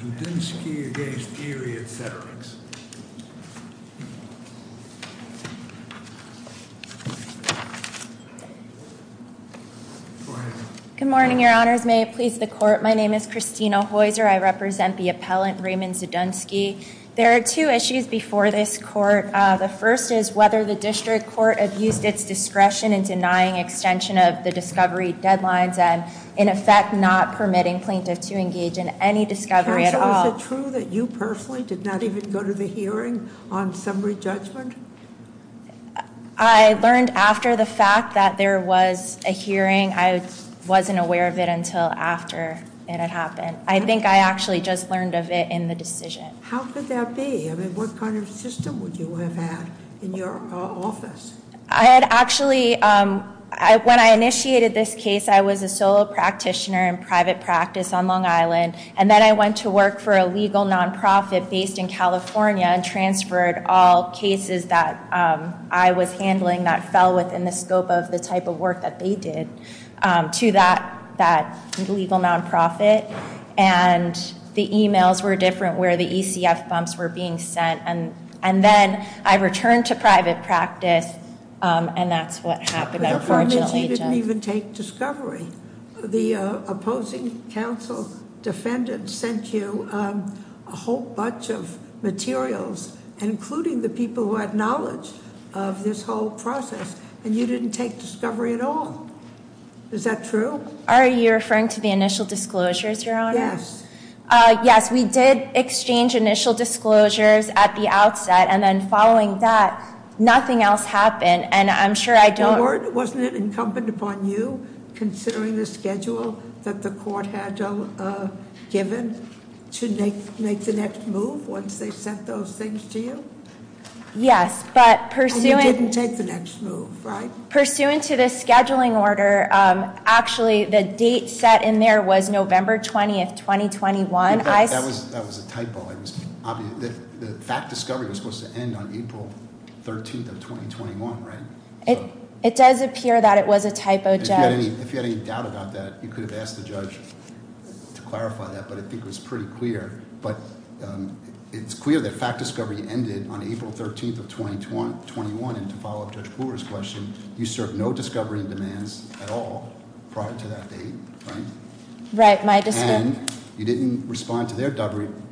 Zdunski v. Erie 2-Chautauqua-Cattaraugus Good morning, Your Honors. May it please the Court, my name is Christina Heuser. I represent the appellant, Raymond Zdunski. There are two issues before this Court. The first is whether the District Court abused its discretion in denying extension of the discovery deadlines and, in effect, not permitting plaintiffs to engage in any discovery at all. Counsel, is it true that you personally did not even go to the hearing on summary judgment? I learned after the fact that there was a hearing. I wasn't aware of it until after it had happened. I think I actually just learned of it in the decision. How could that be? I mean, what kind of system would you have had in your office? I had actually, when I initiated this case, I was a solo practitioner in private practice on Long Island, and then I went to work for a legal non-profit based in California and transferred all cases that I was handling that fell within the scope of the type of work that they did to that legal non-profit. And the emails were different where the ECF bumps were being sent, and then I returned to private practice, and that's what happened. Unfortunately, you didn't even take discovery. The opposing counsel, defendant, sent you a whole bunch of materials, including the people who had knowledge of this whole process, and you didn't take discovery at all. Is that true? Are you referring to the initial disclosures, Your Honor? Yes. Yes, we did exchange initial disclosures at the outset, and then following that, nothing else happened. And I'm sure I don't- Your Honor, wasn't it incumbent upon you, considering the schedule that the court had given, to make the next move once they sent those things to you? Yes, but pursuant- And you didn't take the next move, right? Pursuant to the scheduling order, actually, the date set in there was November 20th, 2021. That was a typo. The fact discovery was supposed to end on April 13th of 2021, right? It does appear that it was a typo, Judge. If you had any doubt about that, you could have asked the judge to clarify that, but I think it was pretty clear. But it's clear that fact discovery ended on April 13th of 2021, and to follow up Judge Brewer's question, you served no discovery demands at all prior to that date, right? Right, my discovery- And you didn't respond to their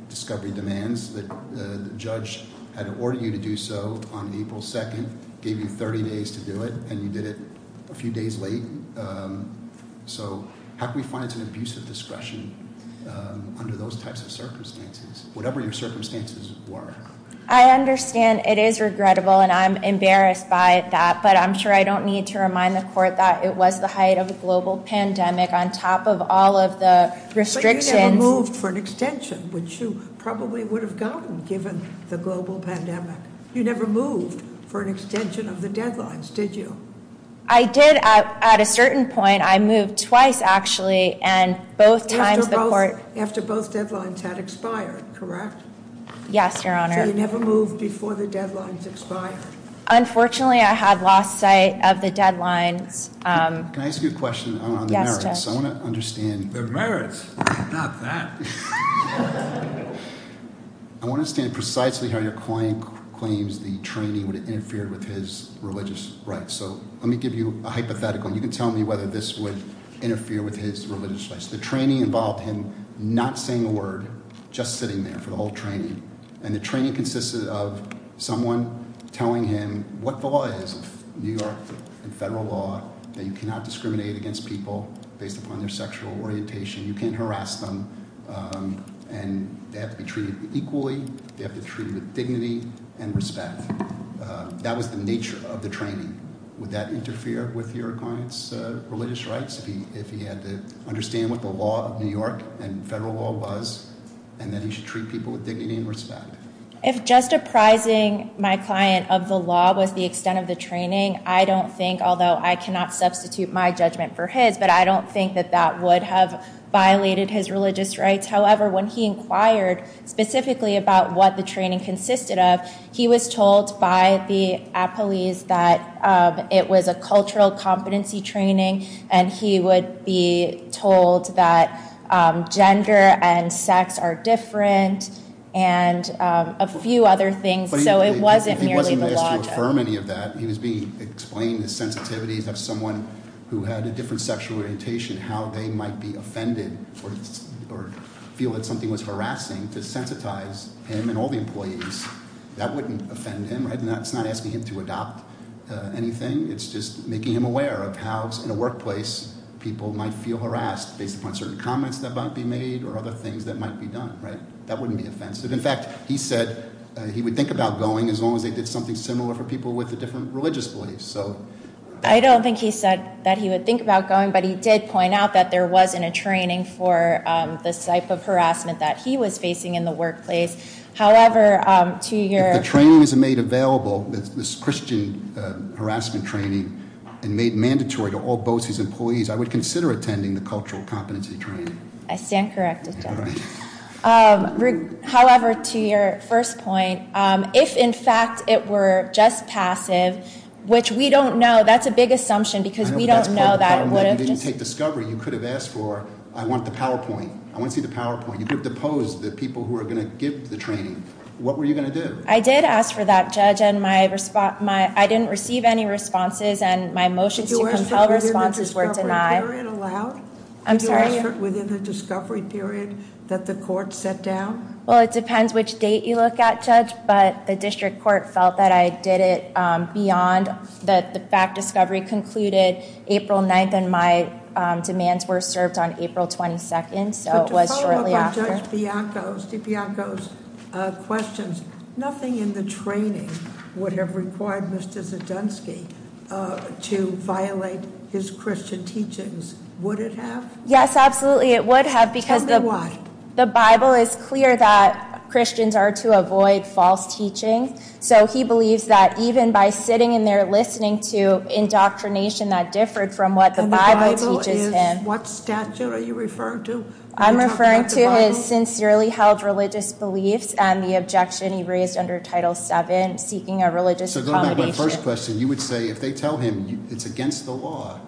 discovery demands. The judge had ordered you to do so on April 2nd, gave you 30 days to do it, and you did it a few days late. So how can we find some abusive discretion under those types of circumstances, whatever your circumstances were? I understand it is regrettable, and I'm embarrassed by that, but I'm sure I don't need to remind the court that it was the height of a global pandemic on top of all of the restrictions. So you never moved for an extension, which you probably would have gotten given the global pandemic. You never moved for an extension of the deadlines, did you? I did, at a certain point. I moved twice, actually, and both times the court- After both deadlines had expired, correct? Yes, Your Honor. So you never moved before the deadlines expired? Unfortunately, I had lost sight of the deadlines. Can I ask you a question on the merits? Yes, Judge. I want to understand- The merits, not that. I want to understand precisely how your client claims the training would have interfered with his religious rights. So let me give you a hypothetical, and you can tell me whether this would interfere with his religious rights. The training involved him not saying a word, just sitting there for the whole training. And the training consisted of someone telling him what the law is, New York federal law, that you cannot discriminate against people based upon their sexual orientation. You can't harass them. And they have to be treated equally. They have to be treated with dignity and respect. That was the nature of the training. Would that interfere with your client's religious rights, if he had to understand what the law of New York and federal law was, and that he should treat people with dignity and respect? If just apprising my client of the law was the extent of the training, I don't think, although I cannot substitute my judgment for his, but I don't think that that would have violated his religious rights. However, when he inquired specifically about what the training consisted of, he was told by the police that it was a cultural competency training, and he would be told that gender and sex are different, and a few other things, so it wasn't merely the law. That he was being explained the sensitivities of someone who had a different sexual orientation, how they might be offended or feel that something was harassing to sensitize him and all the employees. That wouldn't offend him, right, and that's not asking him to adopt anything. It's just making him aware of how, in a workplace, people might feel harassed based upon certain comments that might be made or other things that might be done, right? That wouldn't be offensive. In fact, he said he would think about going as long as they did something similar for people with a different religious belief, so. I don't think he said that he would think about going, but he did point out that there wasn't a training for the type of harassment that he was facing in the workplace. However, to your- If the training isn't made available, this Christian harassment training, and made mandatory to all BOCES employees, I would consider attending the cultural competency training. I stand corrected, John. All right. However, to your first point, if, in fact, it were just passive, which we don't know, that's a big assumption because we don't know that it would have just- If you didn't take discovery, you could have asked for, I want the PowerPoint. I want to see the PowerPoint. You could have deposed the people who are going to give the training. What were you going to do? I did ask for that, Judge, and I didn't receive any responses, and my motions to compel responses were denied. Was the discovery period allowed? I'm sorry? Within the discovery period that the court set down? Well, it depends which date you look at, Judge, but the district court felt that I did it beyond. The fact discovery concluded April 9th, and my demands were served on April 22nd, so it was shortly after. To follow up on Judge Bianco's questions, nothing in the training would have required Mr. Zedunsky to violate his Christian teachings. Would it have? Yes, absolutely, it would have because the- Tell me why. The Bible is clear that Christians are to avoid false teaching, so he believes that even by sitting in there listening to indoctrination that differed from what the Bible teaches him. What statute are you referring to? I'm referring to his sincerely held religious beliefs and the objection he raised under Title VII, seeking a religious accommodation. So going back to my first question, you would say if they tell him it's against the law,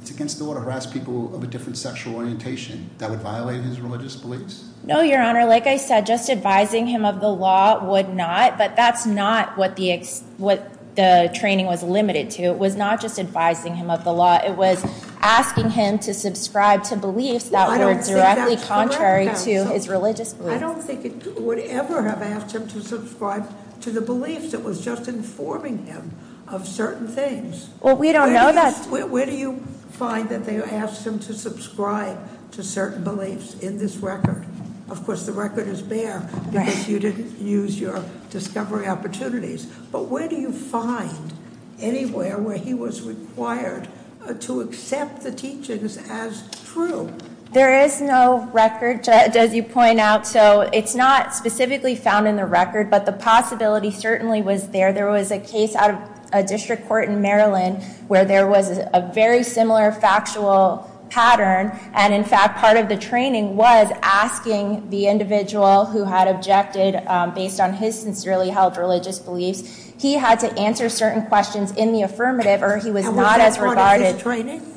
it's against the law to harass people of a different sexual orientation, that would violate his religious beliefs? No, Your Honor, like I said, just advising him of the law would not, but that's not what the training was limited to. It was not just advising him of the law. It was asking him to subscribe to beliefs that were directly contrary to his religious beliefs. I don't think it would ever have asked him to subscribe to the beliefs that was just informing him of certain things. Well, we don't know that. Where do you find that they asked him to subscribe to certain beliefs in this record? Of course, the record is bare because you didn't use your discovery opportunities. But where do you find anywhere where he was required to accept the teachings as true? There is no record, does he point out. So it's not specifically found in the record, but the possibility certainly was there. There was a case out of a district court in Maryland where there was a very similar factual pattern. And in fact, part of the training was asking the individual who had objected based on his sincerely held religious beliefs. He had to answer certain questions in the affirmative or he was not as regarded. And was that part of his training?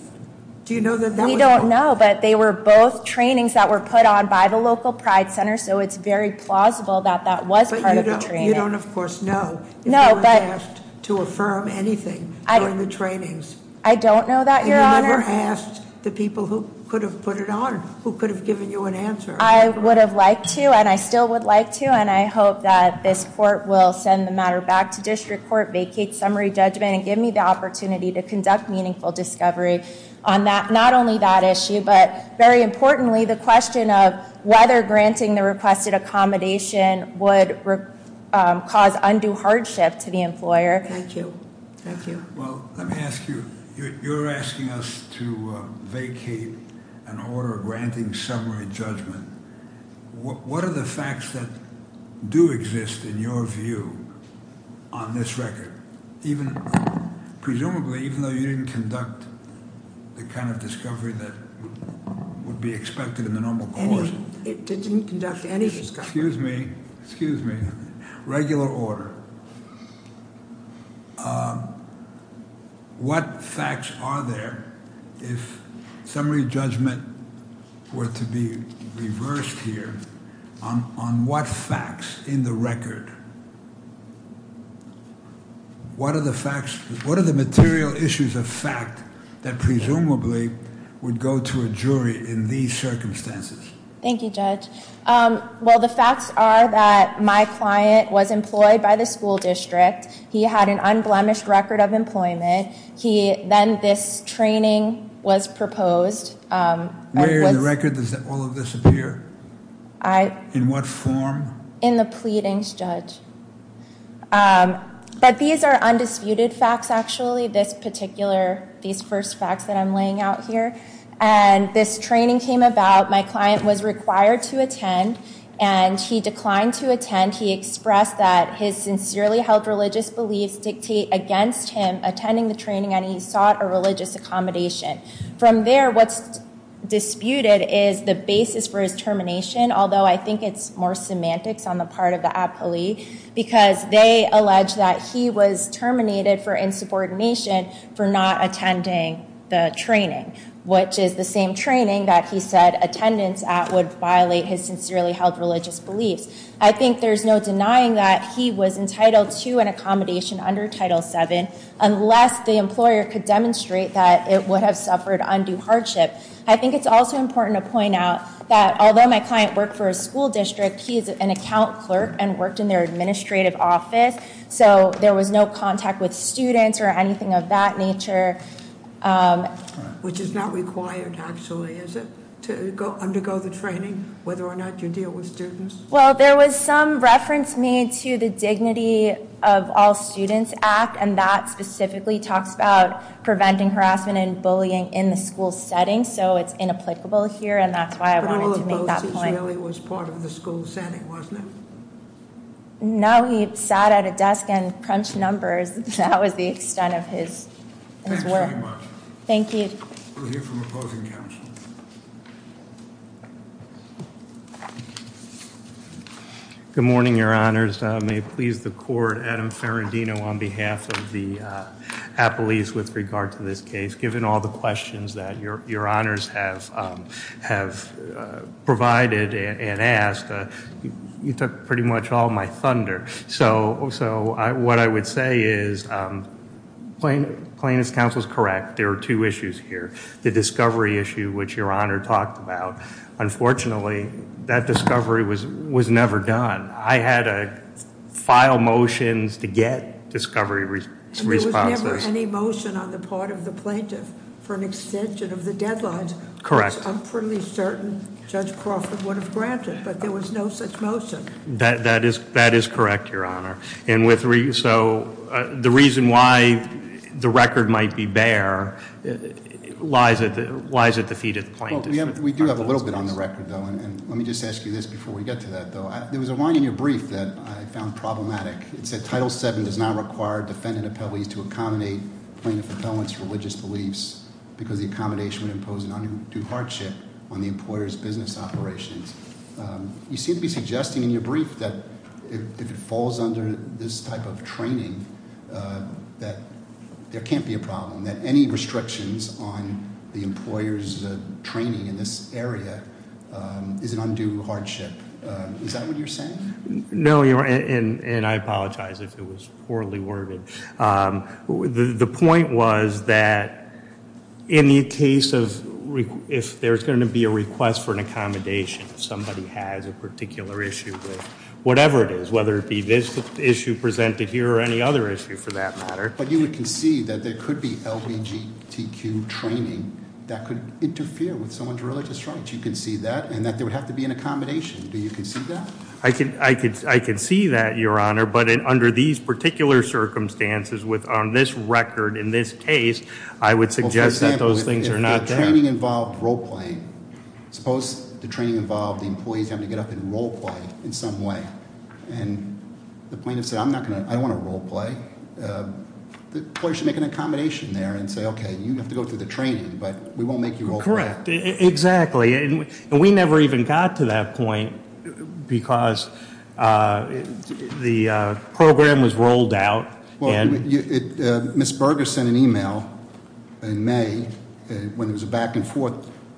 Do you know that that was- I don't know, but they were both trainings that were put on by the local pride center, so it's very plausible that that was part of the training. You don't, of course, know. No, but- If you were asked to affirm anything during the trainings. I don't know that, your honor. And you never asked the people who could have put it on, who could have given you an answer. I would have liked to, and I still would like to, and I hope that this court will send the matter back to district court, vacate summary judgment, and give me the opportunity to conduct meaningful discovery on that. Not only that issue, but very importantly, the question of whether granting the requested accommodation would cause undue hardship to the employer. Thank you. Thank you. Well, let me ask you. You're asking us to vacate an order granting summary judgment. What are the facts that do exist in your view on this record? Even, presumably, even though you didn't conduct the kind of discovery that would be expected in the normal course. It didn't conduct any discovery. Excuse me, excuse me. Regular order. What facts are there if summary judgment were to be reversed here on what facts in the record? What are the material issues of fact that presumably would go to a jury in these circumstances? Thank you, Judge. Well, the facts are that my client was employed by the school district. He had an unblemished record of employment. Then this training was proposed. Where in the record does all of this appear? In what form? In the pleadings, Judge. But these are undisputed facts, actually, this particular, these first facts that I'm laying out here. And this training came about, my client was required to attend, and he declined to attend. He expressed that his sincerely held religious beliefs dictate against him attending the training and he sought a religious accommodation. From there, what's disputed is the basis for his termination. Although I think it's more semantics on the part of the appellee, because they allege that he was terminated for insubordination for not attending the training. Which is the same training that he said attendance at would violate his sincerely held religious beliefs. I think there's no denying that he was entitled to an accommodation under Title VII, unless the employer could demonstrate that it would have suffered undue hardship. I think it's also important to point out that although my client worked for a school district, he is an account clerk and worked in their administrative office. So there was no contact with students or anything of that nature. Which is not required, actually, is it? To undergo the training, whether or not you deal with students? Well, there was some reference made to the Dignity of All Students Act, and that specifically talks about preventing harassment and bullying in the school setting. So it's inapplicable here, and that's why I wanted to make that point. But all of those really was part of the school setting, wasn't it? No, he sat at a desk and crunched numbers. That was the extent of his work. Thank you very much. Thank you. We'll hear from opposing counsel. Good morning, your honors. May it please the court, Adam Ferrandino on behalf of the Appellees with regard to this case. Given all the questions that your honors have provided and asked, you took pretty much all my thunder. So what I would say is, plaintiff's counsel is correct. There are two issues here. The discovery issue, which your honor talked about. Unfortunately, that discovery was never done. I had a file motions to get discovery responses. And there was never any motion on the part of the plaintiff for an extension of the deadlines. Correct. I'm pretty certain Judge Crawford would have granted, but there was no such motion. That is correct, your honor. And so the reason why the record might be bare lies at the feet of the plaintiff. We do have a little bit on the record, though, and let me just ask you this before we get to that, though. There was a line in your brief that I found problematic. It said, Title VII does not require defendant appellees to accommodate plaintiff repellent's religious beliefs, because the accommodation would impose an undue hardship on the employer's business operations. You seem to be suggesting in your brief that if it falls under this type of training, that there can't be a problem, that any restrictions on the employer's business area is an undue hardship. Is that what you're saying? No, your honor, and I apologize if it was poorly worded. The point was that in the case of if there's going to be a request for an accommodation if somebody has a particular issue with whatever it is, whether it be this issue presented here or any other issue for that matter. But you would concede that there could be LBGTQ training that could interfere with someone's religious rights. You can see that, and that there would have to be an accommodation. Do you concede that? I can see that, your honor, but under these particular circumstances, with on this record, in this case, I would suggest that those things are not there. If the training involved role playing, suppose the training involved the employees having to get up and role play in some way. And the plaintiff said, I don't want to role play. The employer should make an accommodation there and say, okay, you have to go through the training, but we won't make you role play. Correct, exactly, and we never even got to that point because the program was rolled out and- Ms. Berger sent an email in May when it was a back and forth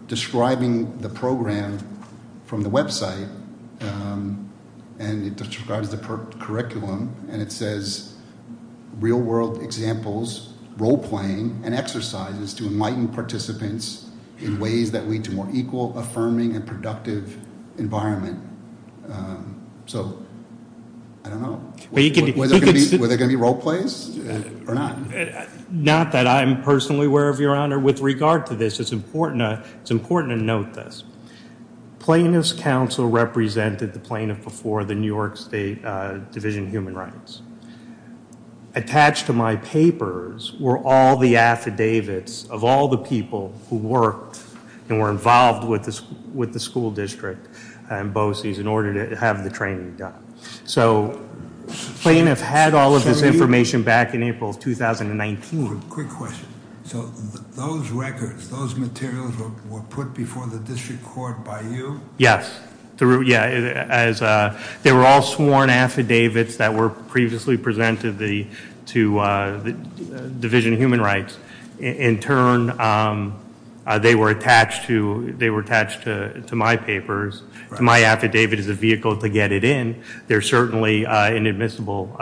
describing the program from the website. And it describes the curriculum, and it says, real world examples, role playing, and exercises to enlighten participants in ways that lead to more equal, affirming, and productive environment. So, I don't know, were there going to be role plays or not? Not that I'm personally aware of, your honor. With regard to this, it's important to note this. Plaintiff's counsel represented the plaintiff before the New York State Division of Human Rights. Attached to my papers were all the affidavits of all the people who worked and were involved with the school district and BOCES in order to have the training done. So, plaintiff had all of this information back in April of 2019. Moving, quick question, so those records, those materials were put before the district court by you? Yes, they were all sworn affidavits that were previously presented to the Division of Human Rights. In turn, they were attached to my papers. My affidavit is a vehicle to get it in. They're certainly in admissible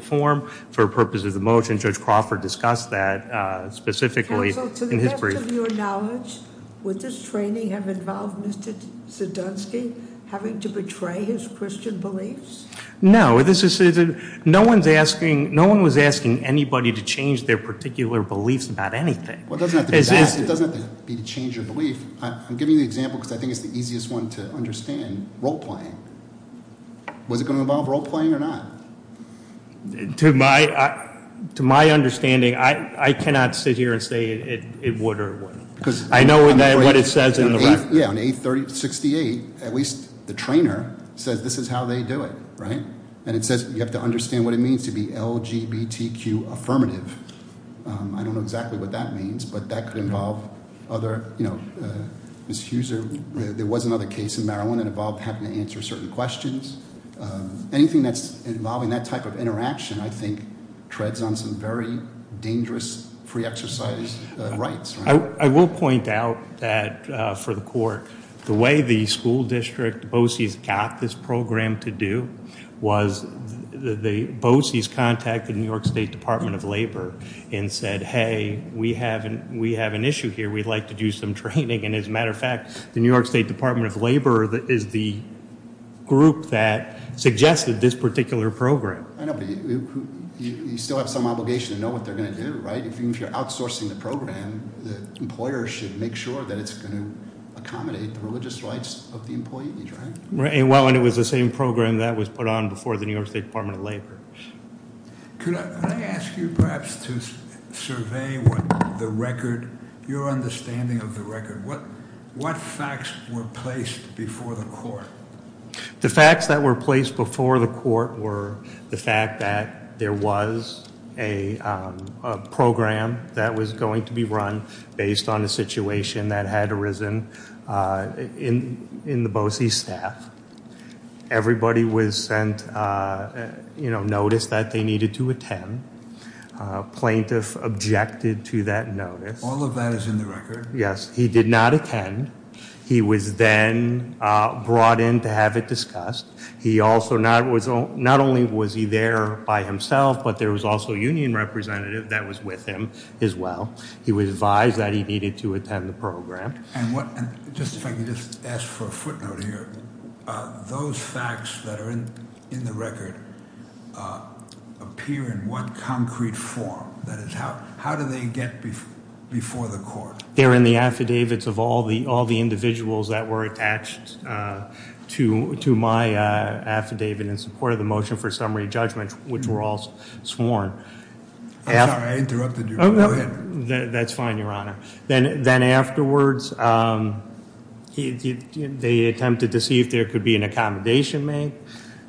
form. For purposes of the motion, Judge Crawford discussed that specifically in his brief. Counsel, to the best of your knowledge, would this training have involved Mr. Sidonski having to betray his Christian beliefs? No, no one was asking anybody to change their particular beliefs about anything. Well, it doesn't have to be to change your belief. I'm giving you the example because I think it's the easiest one to understand, role playing. Was it going to involve role playing or not? To my understanding, I cannot sit here and say it would or wouldn't. I know what it says in the record. Yeah, on A3068, at least the trainer says this is how they do it, right? And it says you have to understand what it means to be LGBTQ affirmative. I don't know exactly what that means, but that could involve other, Ms. Huser, there was another case in Maryland that involved having to answer certain questions. Anything that's involving that type of interaction, I think, treads on some very dangerous free exercise rights. I will point out that for the court, the way the school district BOCES got this program to do was the BOCES contacted New York State Department of Labor and said, hey, we have an issue here. We'd like to do some training. And as a matter of fact, the New York State Department of Labor is the group that suggested this particular program. I know, but you still have some obligation to know what they're going to do, right? If you're outsourcing the program, the employer should make sure that it's going to accommodate the religious rights of the employee, right? Right, and well, and it was the same program that was put on before the New York State Department of Labor. Could I ask you perhaps to survey what the record, your understanding of the record. What facts were placed before the court? The facts that were placed before the court were the fact that there was a program that was going to be run based on a situation that had arisen in the BOCES staff. Everybody was sent notice that they needed to attend. Plaintiff objected to that notice. All of that is in the record. Yes, he did not attend. He was then brought in to have it discussed. He also, not only was he there by himself, but there was also a union representative that was with him as well. He was advised that he needed to attend the program. And just if I could just ask for a footnote here. Those facts that are in the record appear in what concrete form? That is, how do they get before the court? They're in the affidavits of all the individuals that were attached to my affidavit in support of the motion for summary judgment, which were all sworn. I'm sorry, I interrupted you. Go ahead. That's fine, Your Honor. Then afterwards, they attempted to see if there could be an accommodation made.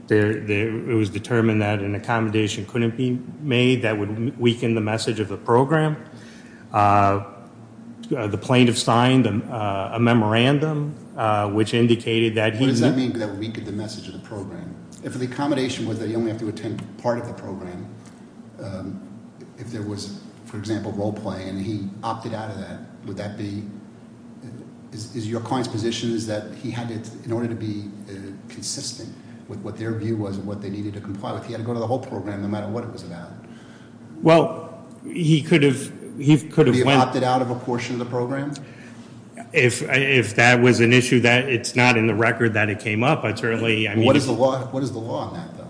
It was determined that an accommodation couldn't be made that would weaken the message of the program. The plaintiff signed a memorandum, which indicated that he- What does that mean, that weakened the message of the program? If the accommodation was that you only have to attend part of the program, if there was, for example, role play. And he opted out of that, would that be, is your client's position is that he had to, in order to be consistent with what their view was of what they needed to comply with, he had to go to the whole program no matter what it was about? Well, he could have- He could have opted out of a portion of the program? If that was an issue that it's not in the record that it came up, I certainly, I mean- What is the law on that, though?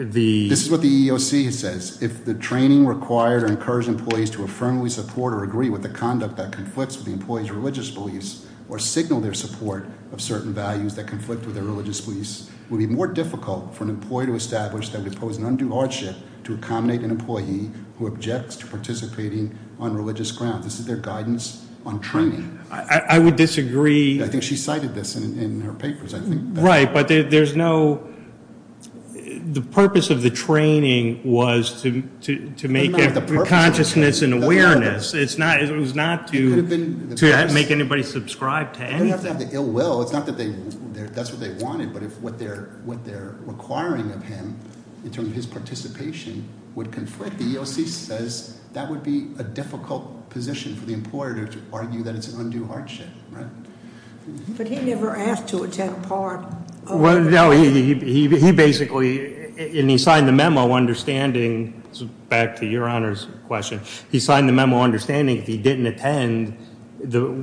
The- This is what the EEOC says. If the training required or incurs employees to affirmably support or agree with the conduct that conflicts with the employee's religious beliefs or signal their support of certain values that conflict with their religious beliefs, it would be more difficult for an employee to establish that we pose an undue hardship to accommodate an employee who objects to participating on religious grounds. This is their guidance on training. I would disagree- I think she cited this in her papers, I think. Right, but there's no, the purpose of the training was to make a consciousness and awareness. It's not, it was not to make anybody subscribe to anything. They have to have the ill will. It's not that they, that's what they wanted, but if what they're requiring of him, in terms of his participation, would conflict. The EEOC says that would be a difficult position for the employer to argue that it's an undue hardship, right? But he never asked to attend a party. Well, no, he basically, and he signed the memo understanding, back to your honor's question. He signed the memo understanding if he didn't attend,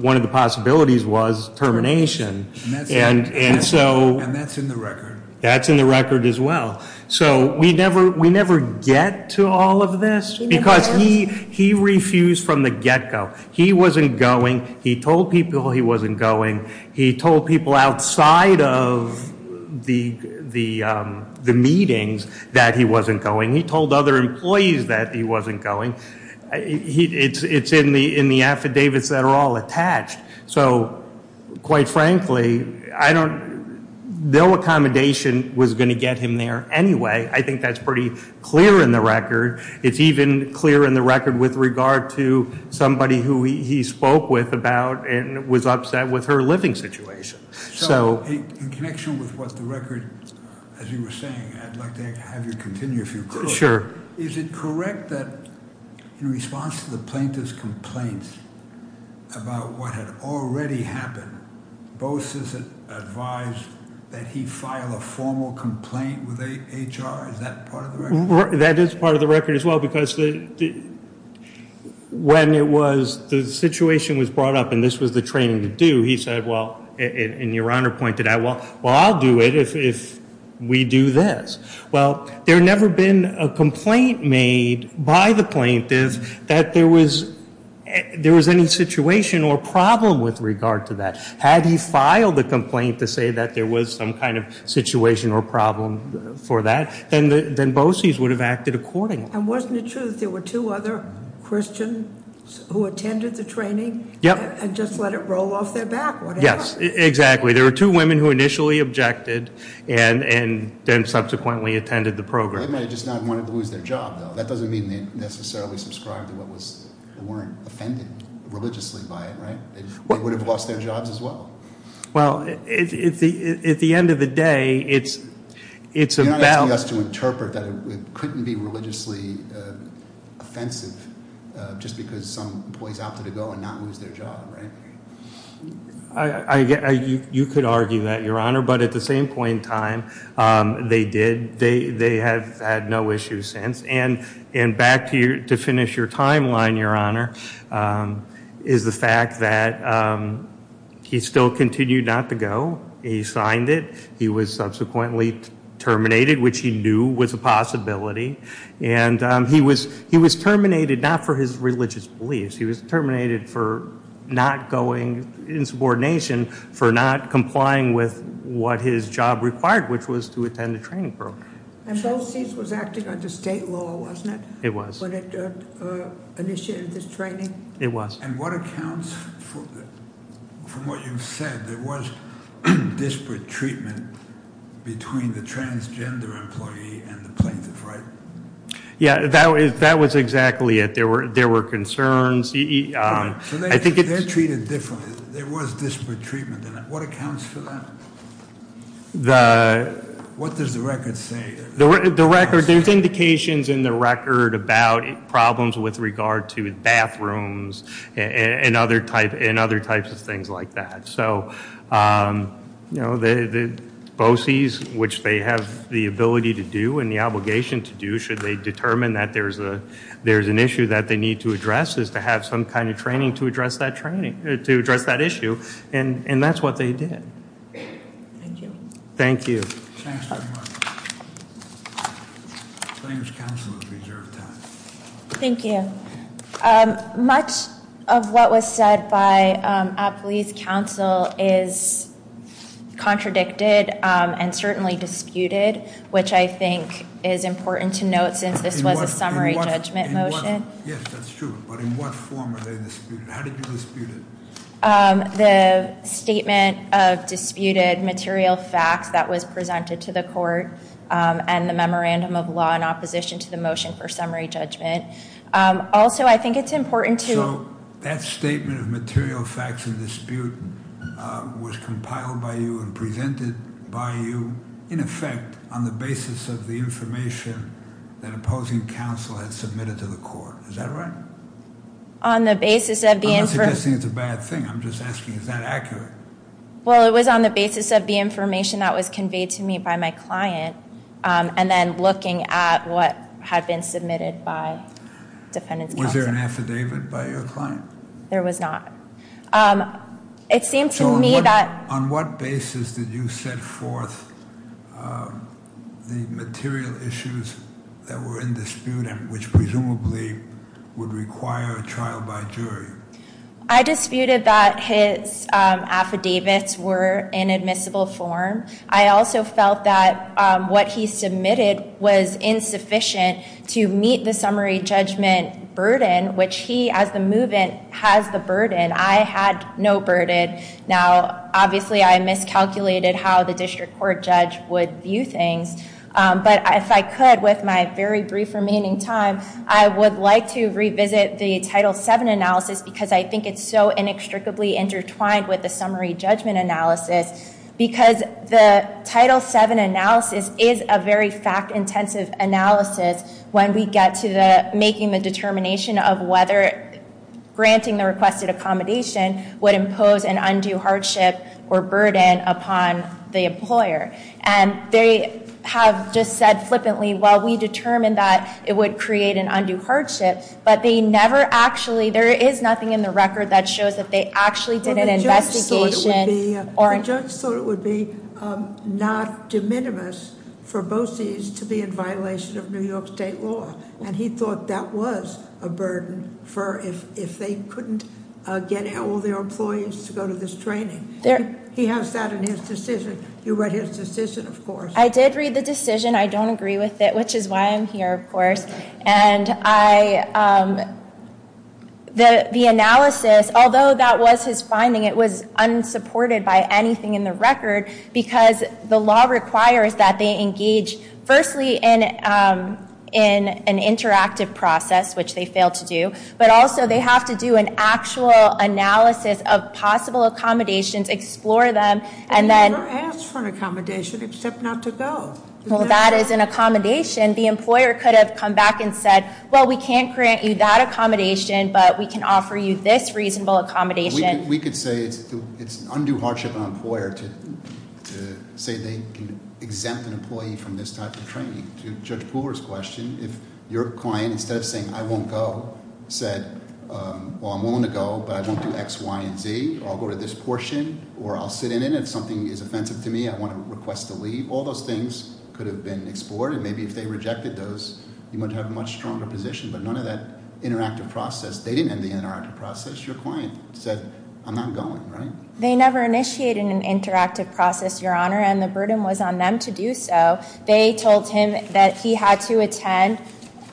one of the possibilities was termination. And so- And that's in the record. That's in the record as well. So we never get to all of this because he refused from the get go. He wasn't going. He told people he wasn't going. He told people outside of the meetings that he wasn't going. He told other employees that he wasn't going. It's in the affidavits that are all attached. So, quite frankly, I don't, no accommodation was going to get him there anyway. I think that's pretty clear in the record. It's even clear in the record with regard to somebody who he spoke with about and was upset with her living situation. So- In connection with what the record, as you were saying, I'd like to have you continue if you could. Sure. Is it correct that in response to the plaintiff's complaints about what had already happened, Boses advised that he file a formal complaint with HR, is that part of the record? That is part of the record as well because when the situation was brought up and this was the training to do, he said, well, and your honor pointed out, well, I'll do it if we do this. Well, there never been a complaint made by the plaintiff that there was any situation or problem with regard to that. Had he filed a complaint to say that there was some kind of situation or problem for that, then Boses would have acted accordingly. And wasn't it true that there were two other Christians who attended the training and just let it roll off their back or whatever? Yes, exactly. There were two women who initially objected and then subsequently attended the program. They might have just not wanted to lose their job, though. That doesn't mean they necessarily subscribed to what was, weren't offended religiously by it, right? They would have lost their jobs as well. Well, at the end of the day, it's about- You're not asking us to interpret that it couldn't be religiously offensive just because some employees opted to go and not lose their job, right? You could argue that, your honor, but at the same point in time, they did. They have had no issues since. And back to finish your timeline, your honor, is the fact that he still continued not to go. He signed it. He was subsequently terminated, which he knew was a possibility. And he was terminated not for his religious beliefs. He was terminated for not going in subordination, for not complying with what his job required, which was to attend a training program. And Boses was acting under state law, wasn't it? It was. When it initiated this training? It was. And what accounts, from what you've said, there was disparate treatment between the transgender employee and the plaintiff, right? Yeah, that was exactly it. There were concerns. I think it's- They're treated differently. There was disparate treatment, and what accounts for that? What does the record say? The record, there's indications in the record about problems with regard to bathrooms and other types of things like that. So the Boses, which they have the ability to do and the obligation to do, should they determine that there's an issue that they need to address, is to have some kind of training to address that training, to address that issue. And that's what they did. Thank you. Thank you, counsel, for your time. Thank you. Much of what was said by Appley's counsel is contradicted and certainly disputed, which I think is important to note, since this was a summary judgment motion. Yes, that's true. But in what form are they disputed? How did you dispute it? The statement of disputed material facts that was presented to the court and the memorandum of law in opposition to the motion for summary judgment. Also, I think it's important to- So, that statement of material facts and dispute was compiled by you and presented by you, in effect, on the basis of the information that opposing counsel had submitted to the court. Is that right? On the basis of the- I'm not suggesting it's a bad thing. I'm just asking, is that accurate? Well, it was on the basis of the information that was conveyed to me by my client, and then looking at what had been submitted by defendant's counsel. Was there an affidavit by your client? There was not. It seemed to me that- On what basis did you set forth the material issues that were in dispute, which presumably would require a trial by jury? I disputed that his affidavits were in admissible form. I also felt that what he submitted was insufficient to meet the summary judgment burden, which he, as the move-in, has the burden. I had no burden. Now, obviously, I miscalculated how the district court judge would view things. But if I could, with my very brief remaining time, I would like to revisit the Title VII analysis, because I think it's so inextricably intertwined with the summary judgment analysis. Because the Title VII analysis is a very fact-intensive analysis when we get to making the determination of whether granting the requested accommodation would impose an undue hardship or burden upon the employer. And they have just said flippantly, well, we determined that it would create an undue hardship. But they never actually, there is nothing in the record that shows that they actually did an investigation. The judge thought it would be not de minimis for BOCES to be in violation of New York State law. And he thought that was a burden for if they couldn't get all their employees to go to this training. He has that in his decision. You read his decision, of course. I did read the decision. I don't agree with it, which is why I'm here, of course. And the analysis, although that was his finding, it was unsupported by anything in the record because the law requires that they engage, firstly, in an interactive process, which they failed to do. But also, they have to do an actual analysis of possible accommodations, explore them, and then- You're asked for an accommodation, except not to go. Well, that is an accommodation. The employer could have come back and said, well, we can't grant you that accommodation, but we can offer you this reasonable accommodation. We could say it's an undue hardship on an employer to say they can exempt an employee from this type of training. To Judge Pooler's question, if your client, instead of saying, I won't go, said, well, I'm willing to go, but I won't do X, Y, and Z, or I'll go to this portion, or I'll sit in it if something is offensive to me, I want to request to leave, all those things could have been explored. And maybe if they rejected those, you might have a much stronger position. But none of that interactive process, they didn't end the interactive process. Your client said, I'm not going, right? They never initiated an interactive process, Your Honor, and the burden was on them to do so. They told him that he had to attend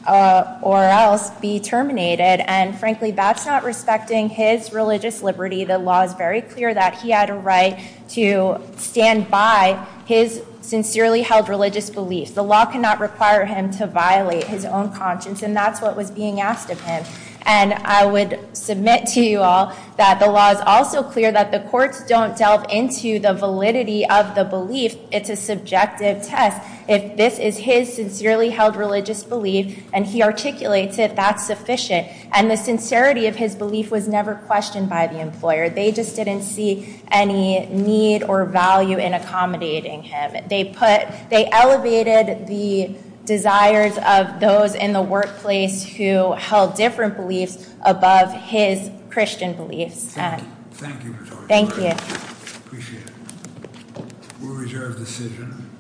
or else be terminated. And frankly, that's not respecting his religious liberty. The law is very clear that he had a right to stand by his sincerely held religious beliefs. The law cannot require him to violate his own conscience, and that's what was being asked of him. And I would submit to you all that the law is also clear that the courts don't delve into the validity of the belief. It's a subjective test. If this is his sincerely held religious belief, and he articulates it, that's sufficient. And the sincerity of his belief was never questioned by the employer. They just didn't see any need or value in accommodating him. They put, they elevated the desires of those in the workplace who held different beliefs above his Christian beliefs. Thank you, Ms. Archuleta. Thank you. Appreciate it. We'll reserve the decision.